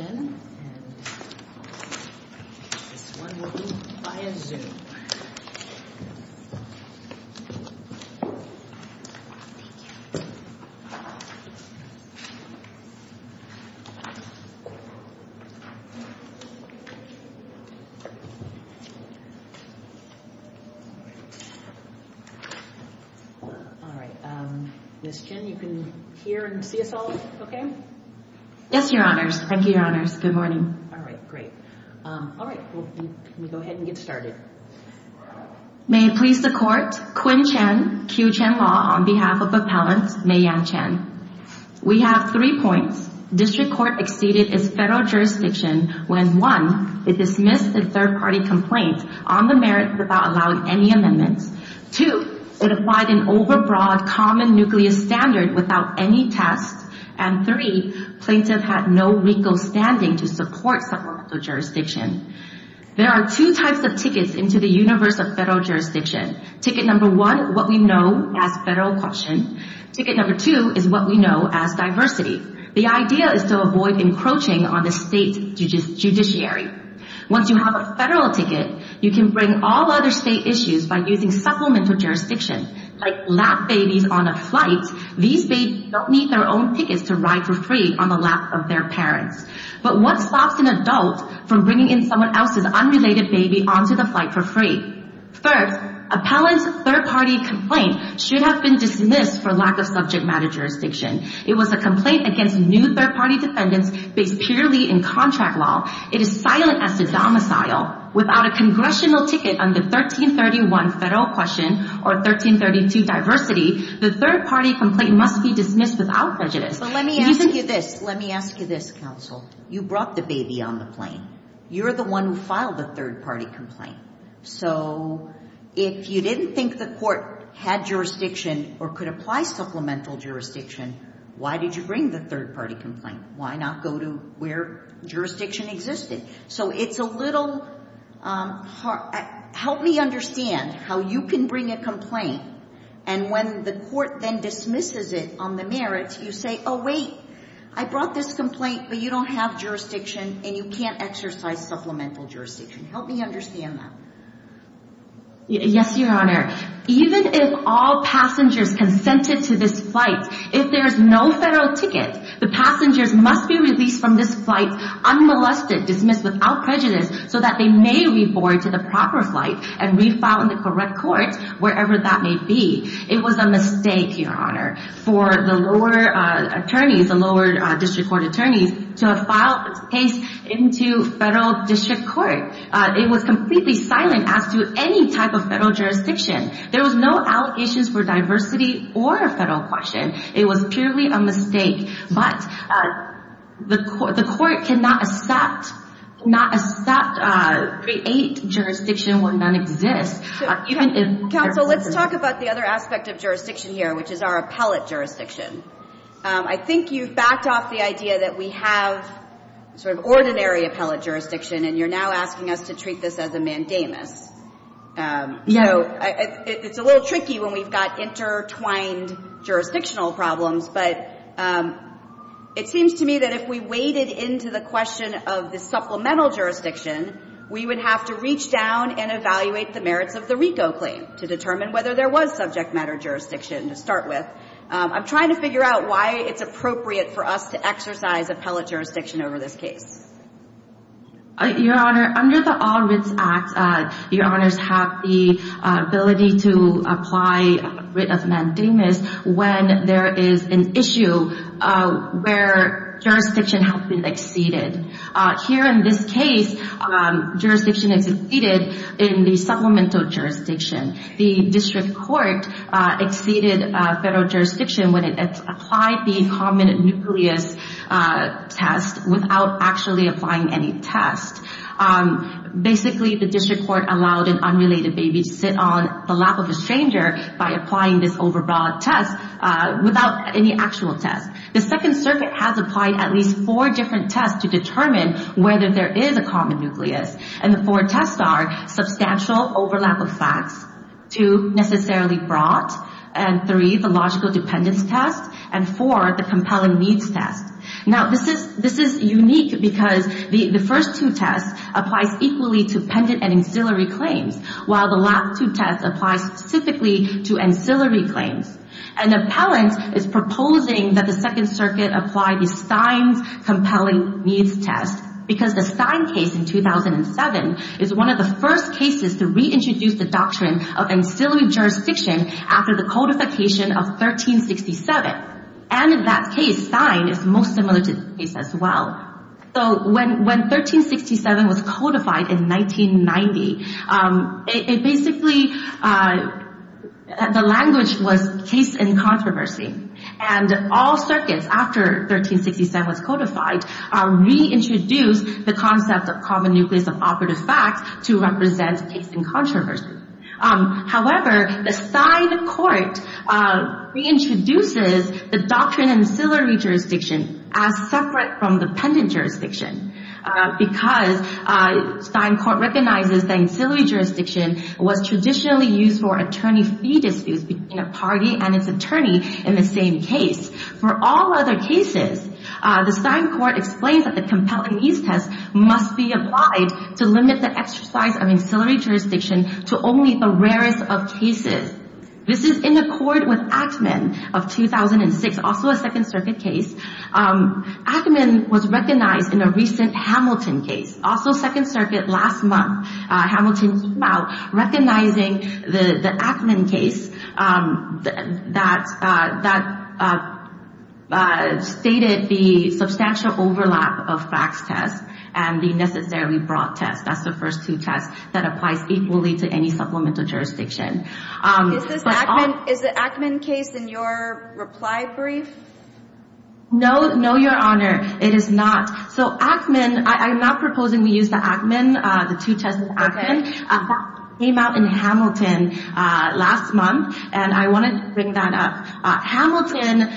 and this one will be via Zoom. Alright, Ms. Chen, you can hear and see us all if you like. Yes, Your Honors. Thank you, Your Honors. Good morning. Alright, great. Can we go ahead and get started? There are two types of tickets into the universe of federal jurisdiction. Ticket number one, what we know as federal caution. Ticket number two is what we know as diversity. The idea is to avoid encroaching on the state judiciary. Once you have a federal ticket, you can bring all other state issues by using supplemental jurisdiction. Like lap babies on a flight, these babies don't need their own tickets to ride for free on the lap of their parents. But what stops an adult from bringing in someone else's unrelated baby onto the flight for free? Third, appellant's third-party complaint should have been dismissed for lack of subject matter jurisdiction. It was a complaint against new third-party defendants based purely in contract law. It is silent as to domicile. Without a congressional ticket under 1331 Federal Caution or 1332 Diversity, the third-party complaint must be dismissed without prejudice. Let me ask you this. Let me ask you this, counsel. You brought the baby on the plane. You're the one who filed the third-party complaint. So if you didn't think the court had jurisdiction or could apply supplemental jurisdiction, why did you bring the third-party complaint? Why not go to where jurisdiction existed? So it's a little hard. Help me understand how you can bring a complaint, and when the court then dismisses it on the merits, you say, oh, wait, I brought this complaint, but you don't have jurisdiction, and you can't exercise supplemental jurisdiction. Help me understand that. Yes, Your Honor. Even if all passengers consented to this flight, if there is no federal ticket, the passengers must be released from this flight unmolested, dismissed without prejudice, so that they may re-board to the proper flight and re-file in the correct court, wherever that may be. It was a mistake, Your Honor, for the lower attorneys, the lower district court attorneys, to file case into federal district court. It was completely silent as to any type of federal jurisdiction. There was no allegations for diversity or a federal question. It was purely a mistake, but the court cannot accept, not accept, create jurisdiction where none exists. Counsel, let's talk about the other aspect of jurisdiction here, which is our appellate jurisdiction. I think you've backed off the idea that we have sort of ordinary appellate jurisdiction, and you're now asking us to treat this as a mandamus. So it's a little tricky when we've got intertwined jurisdictional problems, but it seems to me that if we waded into the question of the supplemental jurisdiction, we would have to reach down and evaluate the merits of the RICO claim to determine whether there was subject matter jurisdiction to start with. I'm trying to figure out why it's appropriate for us to exercise appellate jurisdiction over this case. Your Honor, under the All Writs Act, Your Honors have the ability to apply a writ of mandamus when there is an issue where jurisdiction has been exceeded. Here in this case, jurisdiction is exceeded in the supplemental jurisdiction. The district court exceeded federal jurisdiction when it applied the common nucleus test without actually applying any test. Basically, the district court allowed an unrelated baby to sit on the lap of a stranger by applying this overall test without any actual test. The Second Circuit has applied at least four different tests to determine whether there is a common nucleus, and the four tests are substantial overlap of facts, two, necessarily brought, and three, the logical dependence test, and four, the compelling needs test. Now, this is unique because the first two tests apply equally to pendant and ancillary claims, while the last two tests apply specifically to ancillary claims. An appellant is proposing that the Second Circuit apply the Stein's compelling needs test because the Stein case in 2007 is one of the first cases to reintroduce the doctrine of ancillary jurisdiction after the codification of 1367. And in that case, Stein is most similar to this case as well. So when 1367 was codified in 1990, it basically, the language was case in controversy. And all circuits, after 1367 was codified, reintroduced the concept of common nucleus of operative facts to represent case in controversy. However, the Stein court reintroduces the doctrine of ancillary jurisdiction as separate from the pendant jurisdiction because Stein court recognizes that ancillary jurisdiction was traditionally used for attorney fee disputes between a party and its attorney in the same case. For all other cases, the Stein court explains that the compelling needs test must be applied to limit the exercise of ancillary jurisdiction to only the rarest of cases. This is in accord with Ackman of 2006, also a Second Circuit case. Ackman was recognized in a recent Hamilton case, also Second Circuit last month. Hamilton came out recognizing the Ackman case that stated the substantial overlap of facts test and the necessary broad test. That's the first two tests that applies equally to any supplemental jurisdiction. Is the Ackman case in your reply brief? No, no, Your Honor. It is not. So Ackman, I'm not proposing we use the Ackman, the two tests of Ackman. Ackman came out in Hamilton last month, and I wanted to bring that up. Hamilton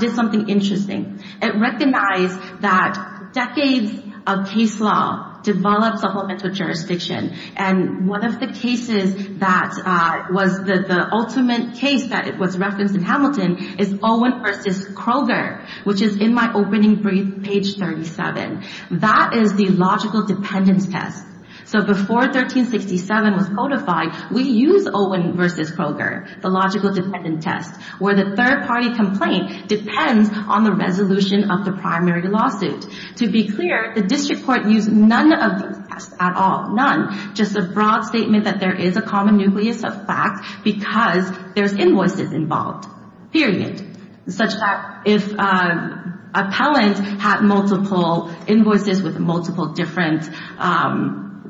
did something interesting. It recognized that decades of case law developed supplemental jurisdiction. And one of the cases that was the ultimate case that was referenced in Hamilton is Owen v. Kroger, which is in my opening brief, page 37. That is the logical dependence test. So before 1367 was codified, we use Owen v. Kroger, the logical dependence test, where the third-party complaint depends on the resolution of the primary lawsuit. To be clear, the district court used none of these tests at all, none. Just a broad statement that there is a common nucleus of facts because there's invoices involved, period. Such that if an appellant had multiple invoices with multiple different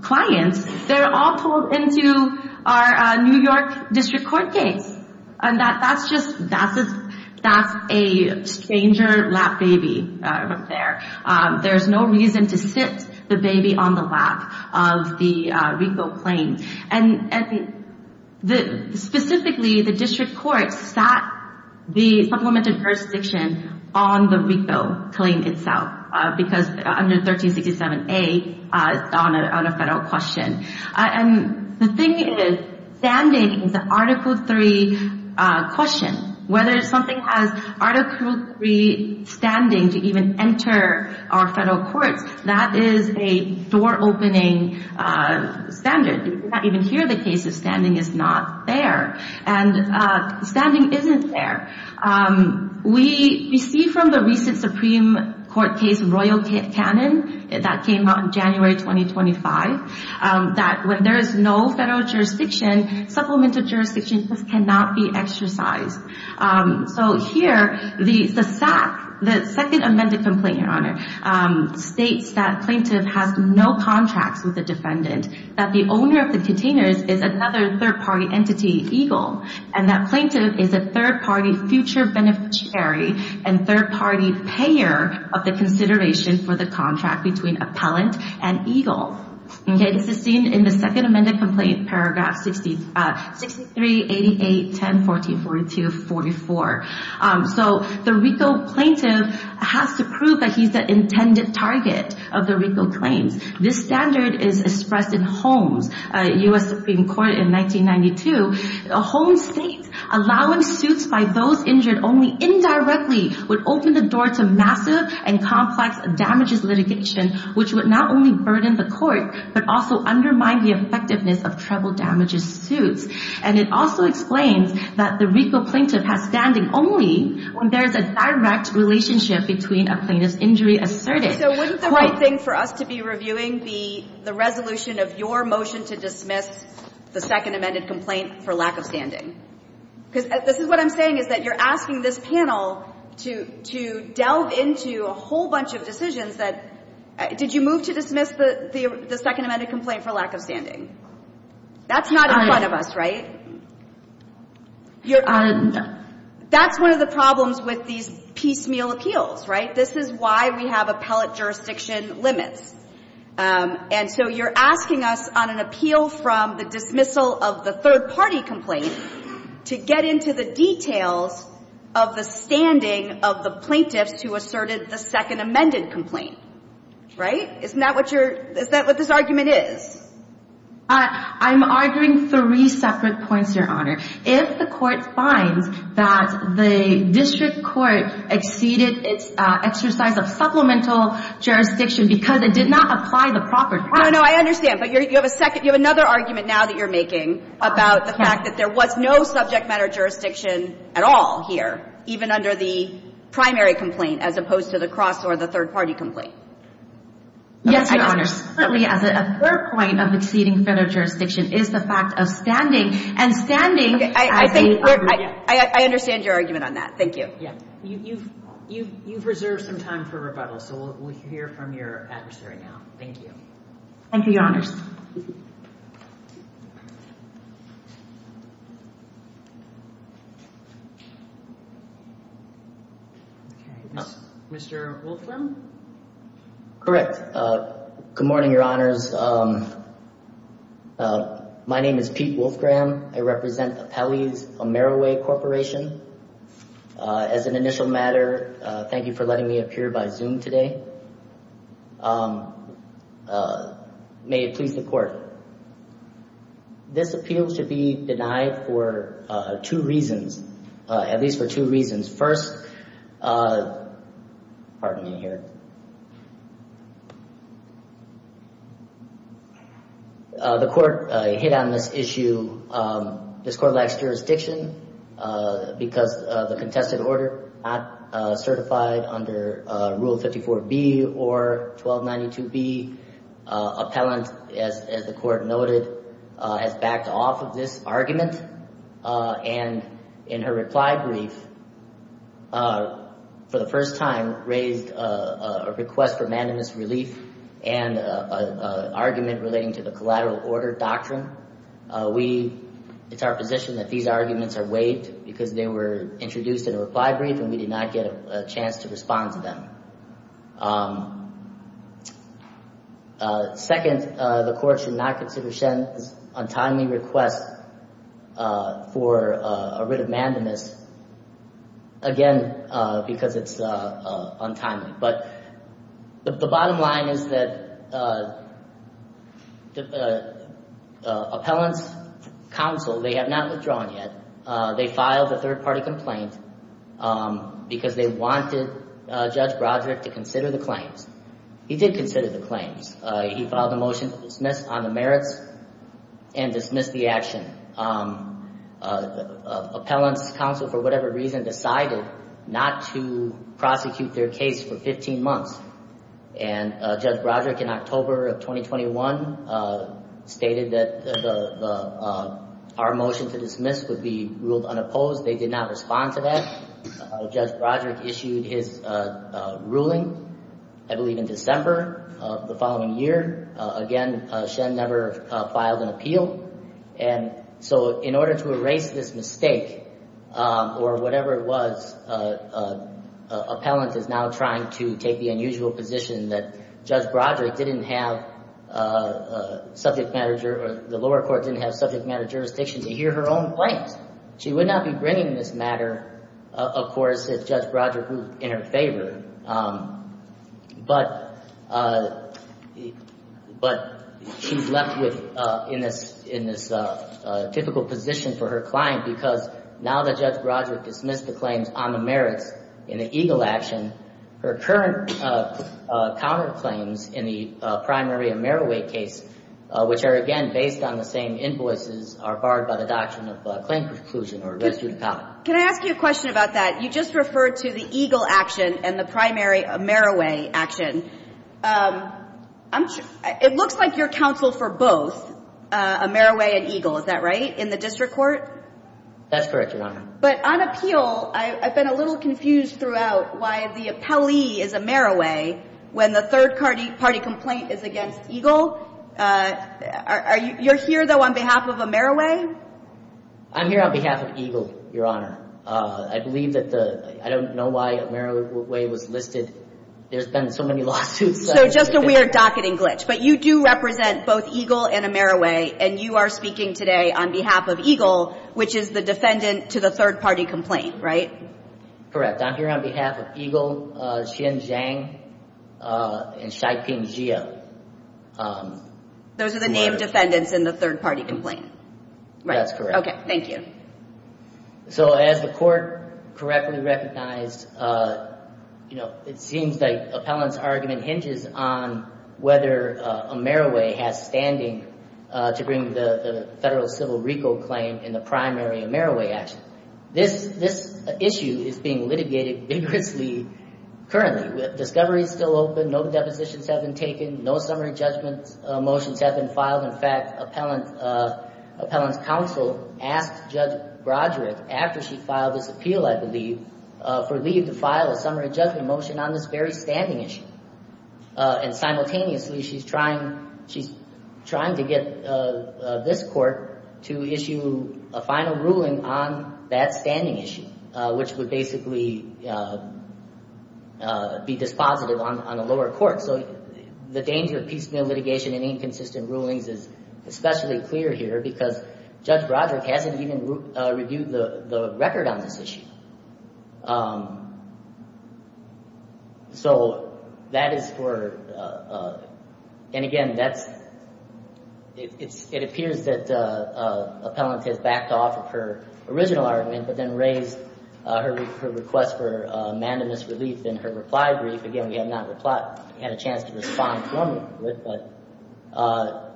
clients, they're all pulled into our New York district court case. And that's just a stranger lap baby right there. There's no reason to sit the baby on the lap of the RICO claim. And specifically, the district court sat the supplemented jurisdiction on the RICO claim itself because under 1367A, it's on a federal question. And the thing is, standing is an Article III question. Whether something has Article III standing to even enter our federal courts, that is a door-opening standard. You cannot even hear the case if standing is not there. And standing isn't there. We see from the recent Supreme Court case, Royal Cannon, that came out in January 2025, that when there is no federal jurisdiction, supplemented jurisdiction just cannot be exercised. So here, the second amended complaint, Your Honor, states that plaintiff has no contracts with the defendant. That the owner of the containers is another third-party entity, EGLE. And that plaintiff is a third-party future beneficiary and third-party payer of the consideration for the contract between appellant and EGLE. This is seen in the second amended complaint, paragraph 63, 88, 10, 14, 42, 44. So the RICO plaintiff has to prove that he's the intended target of the RICO claims. This standard is expressed in Holmes, U.S. Supreme Court, in 1992. Holmes states, allowing suits by those injured only indirectly would open the door to massive and complex damages litigation, which would not only burden the court, but also undermine the effectiveness of treble damages suits. And it also explains that the RICO plaintiff has standing only when there is a direct relationship between a plaintiff's injury asserted. So wouldn't the right thing for us to be reviewing be the resolution of your motion to dismiss the second amended complaint for lack of standing? Because this is what I'm saying, is that you're asking this panel to delve into a whole bunch of decisions that, did you move to dismiss the second amended complaint for lack of standing? That's not in front of us, right? Your Honor, that's one of the problems with these piecemeal appeals, right? This is why we have appellate jurisdiction limits. And so you're asking us on an appeal from the dismissal of the third party complaint to get into the details of the standing of the plaintiffs who asserted the second amended complaint, right? Isn't that what this argument is? I'm arguing three separate points, Your Honor. If the court finds that the district court exceeded its exercise of supplemental jurisdiction because it did not apply the property. No, no, I understand. But you have a second, you have another argument now that you're making about the fact that there was no subject matter jurisdiction at all here, even under the primary complaint, as opposed to the cross or the third party complaint. Yes, Your Honor. A third point of exceeding federal jurisdiction is the fact of standing, and standing. I think I understand your argument on that. Thank you. You've reserved some time for rebuttal, so we'll hear from your adversary now. Thank you. Thank you, Your Honors. Mr. Wolfram? Correct. Good morning, Your Honors. My name is Pete Wolfram. I represent Apelles Ameroway Corporation. As an initial matter, thank you for letting me appear by Zoom today. May it please the court. This appeal should be denied for two reasons, at least for two reasons. First, pardon me here. The court hit on this issue. This court lacks jurisdiction because the contested order not certified under Rule 54B or 1292B. Appellant, as the court noted, has backed off of this argument. And in her reply brief, for the first time, raised a request for unanimous relief and an argument relating to the collateral order doctrine. It's our position that these arguments are waived because they were introduced in a reply brief and we did not get a chance to respond to them. Second, the court should not consider Shen's untimely request for a writ of mandamus, again, because it's untimely. But the bottom line is that Appellant's counsel, they have not withdrawn yet. They filed a third-party complaint because they wanted Judge Broderick to consider the claims. He did consider the claims. He filed a motion to dismiss on the merits and dismissed the action. Appellant's counsel, for whatever reason, decided not to prosecute their case for 15 months. And Judge Broderick, in October of 2021, stated that our motion to dismiss would be ruled unopposed. They did not respond to that. Judge Broderick issued his ruling, I believe in December of the following year. Again, Shen never filed an appeal. And so in order to erase this mistake, or whatever it was, Appellant is now trying to take the unusual position that Judge Broderick didn't have subject matter or the lower court didn't have subject matter jurisdiction to hear her own claims. She would not be bringing this matter, of course, if Judge Broderick was in her favor. But she's left in this difficult position for her client because now that Judge Broderick dismissed the claims on the merits in the EGLE action, her current counterclaims in the primary AmeriWay case, which are, again, based on the same invoices, are barred by the doctrine of claim preclusion or res judicata. Can I ask you a question about that? You just referred to the EGLE action and the primary AmeriWay action. It looks like you're counsel for both AmeriWay and EGLE, is that right, in the district court? That's correct, Your Honor. But on appeal, I've been a little confused throughout why the appellee is AmeriWay when the third-party complaint is against EGLE. You're here, though, on behalf of AmeriWay? I'm here on behalf of EGLE, Your Honor. I believe that the – I don't know why AmeriWay was listed. There's been so many lawsuits. So just a weird docketing glitch. But you do represent both EGLE and AmeriWay, and you are speaking today on behalf of EGLE, which is the defendant to the third-party complaint, right? Correct. I'm here on behalf of EGLE, Xin Zhang, and Shai Ping Jie. Those are the named defendants in the third-party complaint. Right. That's correct. Okay. Thank you. So as the court correctly recognized, you know, it seems like appellant's argument hinges on whether AmeriWay has standing to bring the federal civil RICO claim in the primary AmeriWay action. This issue is being litigated vigorously currently. Discovery is still open. No depositions have been taken. No summary judgment motions have been filed. In fact, appellant's counsel asked Judge Broderick, after she filed this appeal, I believe, for leave to file a summary judgment motion on this very standing issue. And simultaneously, she's trying to get this court to issue a final ruling on that standing issue, which would basically be dispositive on the lower court. So the danger of piecemeal litigation and inconsistent rulings is especially clear here because Judge Broderick hasn't even reviewed the record on this issue. So that is for – and again, that's – it appears that appellant has backed off of her original argument but then raised her request for mandamus relief in her reply brief. Again, we have not had a chance to respond formally to it. But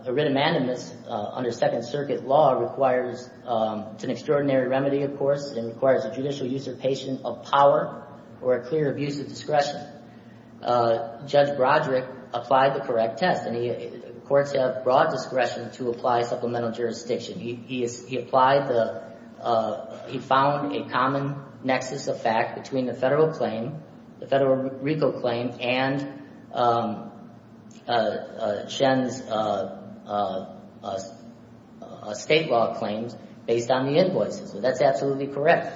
a writ of mandamus under Second Circuit law requires – it's an extraordinary remedy, of course. It requires a judicial usurpation of power or a clear abuse of discretion. Judge Broderick applied the correct test. And courts have broad discretion to apply supplemental jurisdiction. He applied the – he found a common nexus of fact between the federal claim, the federal RICO claim, and Shen's state law claims based on the invoices. So that's absolutely correct.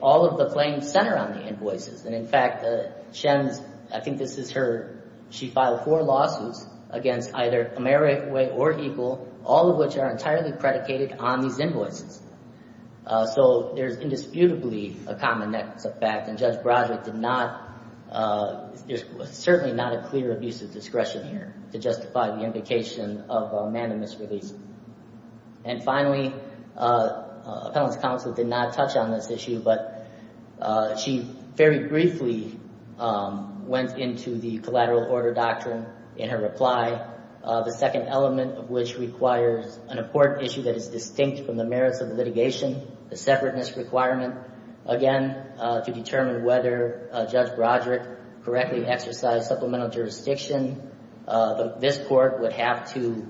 All of the claims center on the invoices. And in fact, Shen's – I think this is her – she filed four lawsuits against either AmeriWay or EGLE, all of which are entirely predicated on these invoices. So there's indisputably a common nexus of fact, and Judge Broderick did not – there's certainly not a clear abuse of discretion here to justify the implication of a mandamus release. And finally, appellant's counsel did not touch on this issue, but she very briefly went into the collateral order doctrine in her reply, the second element of which requires an important issue that is distinct from the merits of the litigation, the separateness requirement, again, to determine whether Judge Broderick correctly exercised supplemental jurisdiction. This court would have to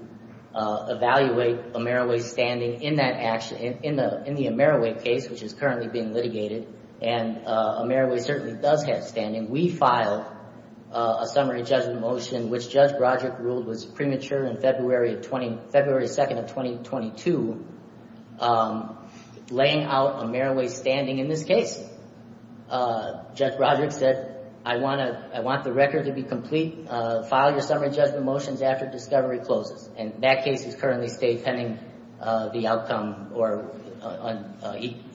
evaluate AmeriWay's standing in that – in the AmeriWay case, which is currently being litigated, and AmeriWay certainly does have standing. We filed a summary judgment motion, which Judge Broderick ruled was premature in February of – February 2nd of 2022, laying out AmeriWay's standing in this case. Judge Broderick said, I want to – I want the record to be complete. File your summary judgment motions after discovery closes. And that case is currently stayed pending the outcome or –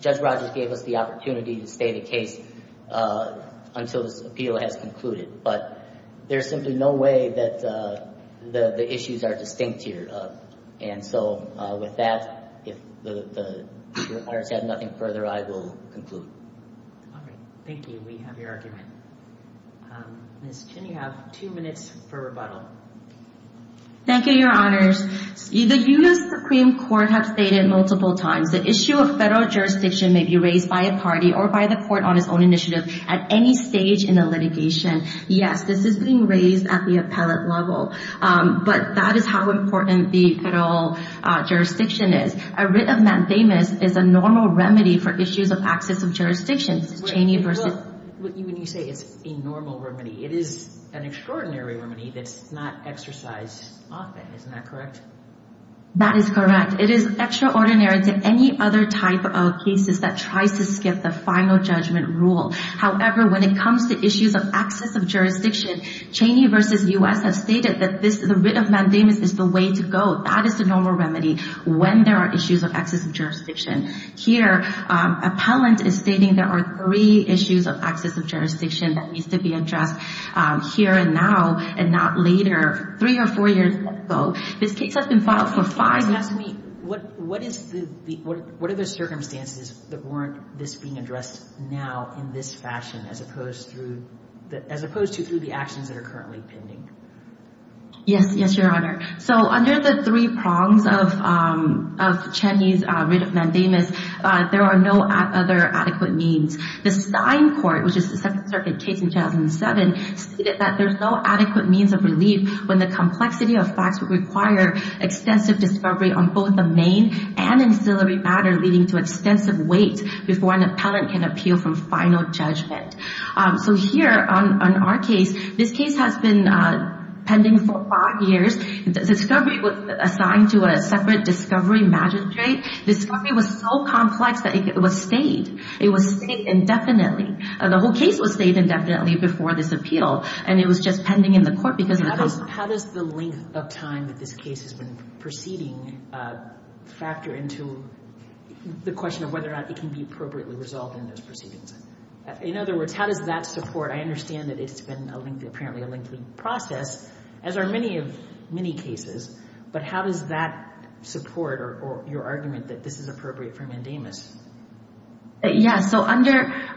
this project gave us the opportunity to stay the case until this appeal has concluded. But there's simply no way that the issues are distinct here. And so with that, if the people of Congress have nothing further, I will conclude. All right. Thank you. We have your argument. Ms. Chin, you have two minutes for rebuttal. Thank you, Your Honors. The U.S. Supreme Court has stated multiple times the issue of federal jurisdiction may be raised by a party or by the court on its own initiative at any stage in a litigation. Yes, this is being raised at the appellate level. But that is how important the federal jurisdiction is. A writ of mandamus is a normal remedy for issues of access of jurisdictions. Cheney versus – When you say it's a normal remedy, it is an extraordinary remedy that's not exercised often. Isn't that correct? That is correct. It is extraordinary to any other type of cases that tries to skip the final judgment rule. However, when it comes to issues of access of jurisdiction, Cheney versus U.S. has stated that this – the writ of mandamus is the way to go. That is the normal remedy when there are issues of access of jurisdiction. Here, appellant is stating there are three issues of access of jurisdiction that needs to be addressed here and now and not later, three or four years ago. This case has been filed for five – You're asking me, what are the circumstances that warrant this being addressed now in this fashion as opposed to through the actions that are currently pending? Yes, Your Honor. So under the three prongs of Cheney's writ of mandamus, there are no other adequate means. The Stein Court, which is the Second Circuit case in 2007, stated that there's no adequate means of relief when the complexity of facts would require extensive discovery on both the main and ancillary matter leading to extensive weight before an appellant can appeal from final judgment. So here on our case, this case has been pending for five years. Discovery was assigned to a separate discovery magistrate. Discovery was so complex that it was stayed. It was stayed indefinitely. The whole case was stayed indefinitely before this appeal, and it was just pending in the court because of the – How does the length of time that this case has been proceeding factor into the question of whether or not it can be appropriately resolved in those proceedings? In other words, how does that support – I understand that it's been apparently a lengthy process, as are many cases, but how does that support your argument that this is appropriate for mandamus? Yes, so under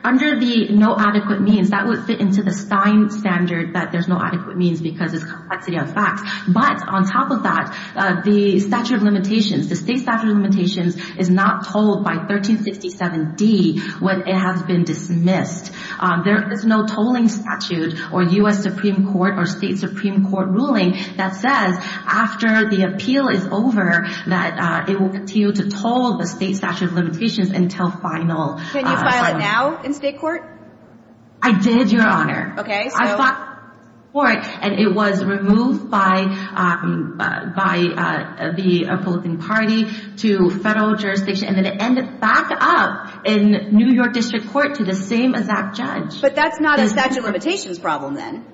the no adequate means, that would fit into the Stein standard that there's no adequate means because it's complexity of facts. But on top of that, the statute of limitations, the state statute of limitations, is not told by 1367D when it has been dismissed. There is no tolling statute or U.S. Supreme Court or state Supreme Court ruling that says after the appeal is over that it will continue to toll the state statute of limitations until final – Can you file it now in state court? I did, Your Honor. Okay, so – I filed it in state court, and it was removed by the Republican Party to federal jurisdiction, and then it ended back up in New York District Court to the same exact judge. But that's not a statute of limitations problem then.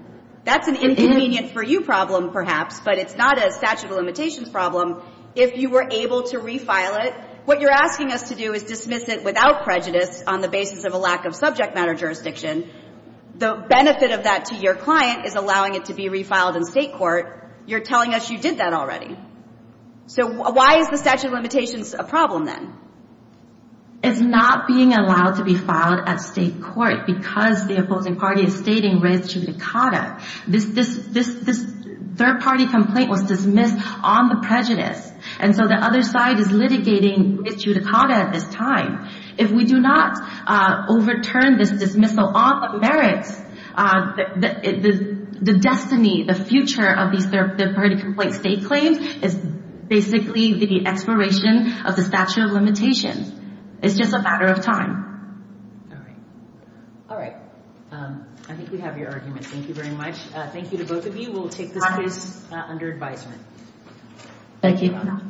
That's an inconvenient-for-you problem perhaps, but it's not a statute of limitations problem. If you were able to refile it, what you're asking us to do is dismiss it without prejudice on the basis of a lack of subject matter jurisdiction. The benefit of that to your client is allowing it to be refiled in state court. You're telling us you did that already. So why is the statute of limitations a problem then? It's not being allowed to be filed at state court because the opposing party is stating res judicata. This third-party complaint was dismissed on the prejudice, and so the other side is litigating res judicata at this time. If we do not overturn this dismissal on the merits, the destiny, the future of these third-party complaints they claim is basically the expiration of the statute of limitations. It's just a matter of time. All right. I think we have your argument. Thank you very much. Thank you to both of you. We'll take this case under advisement. Thank you.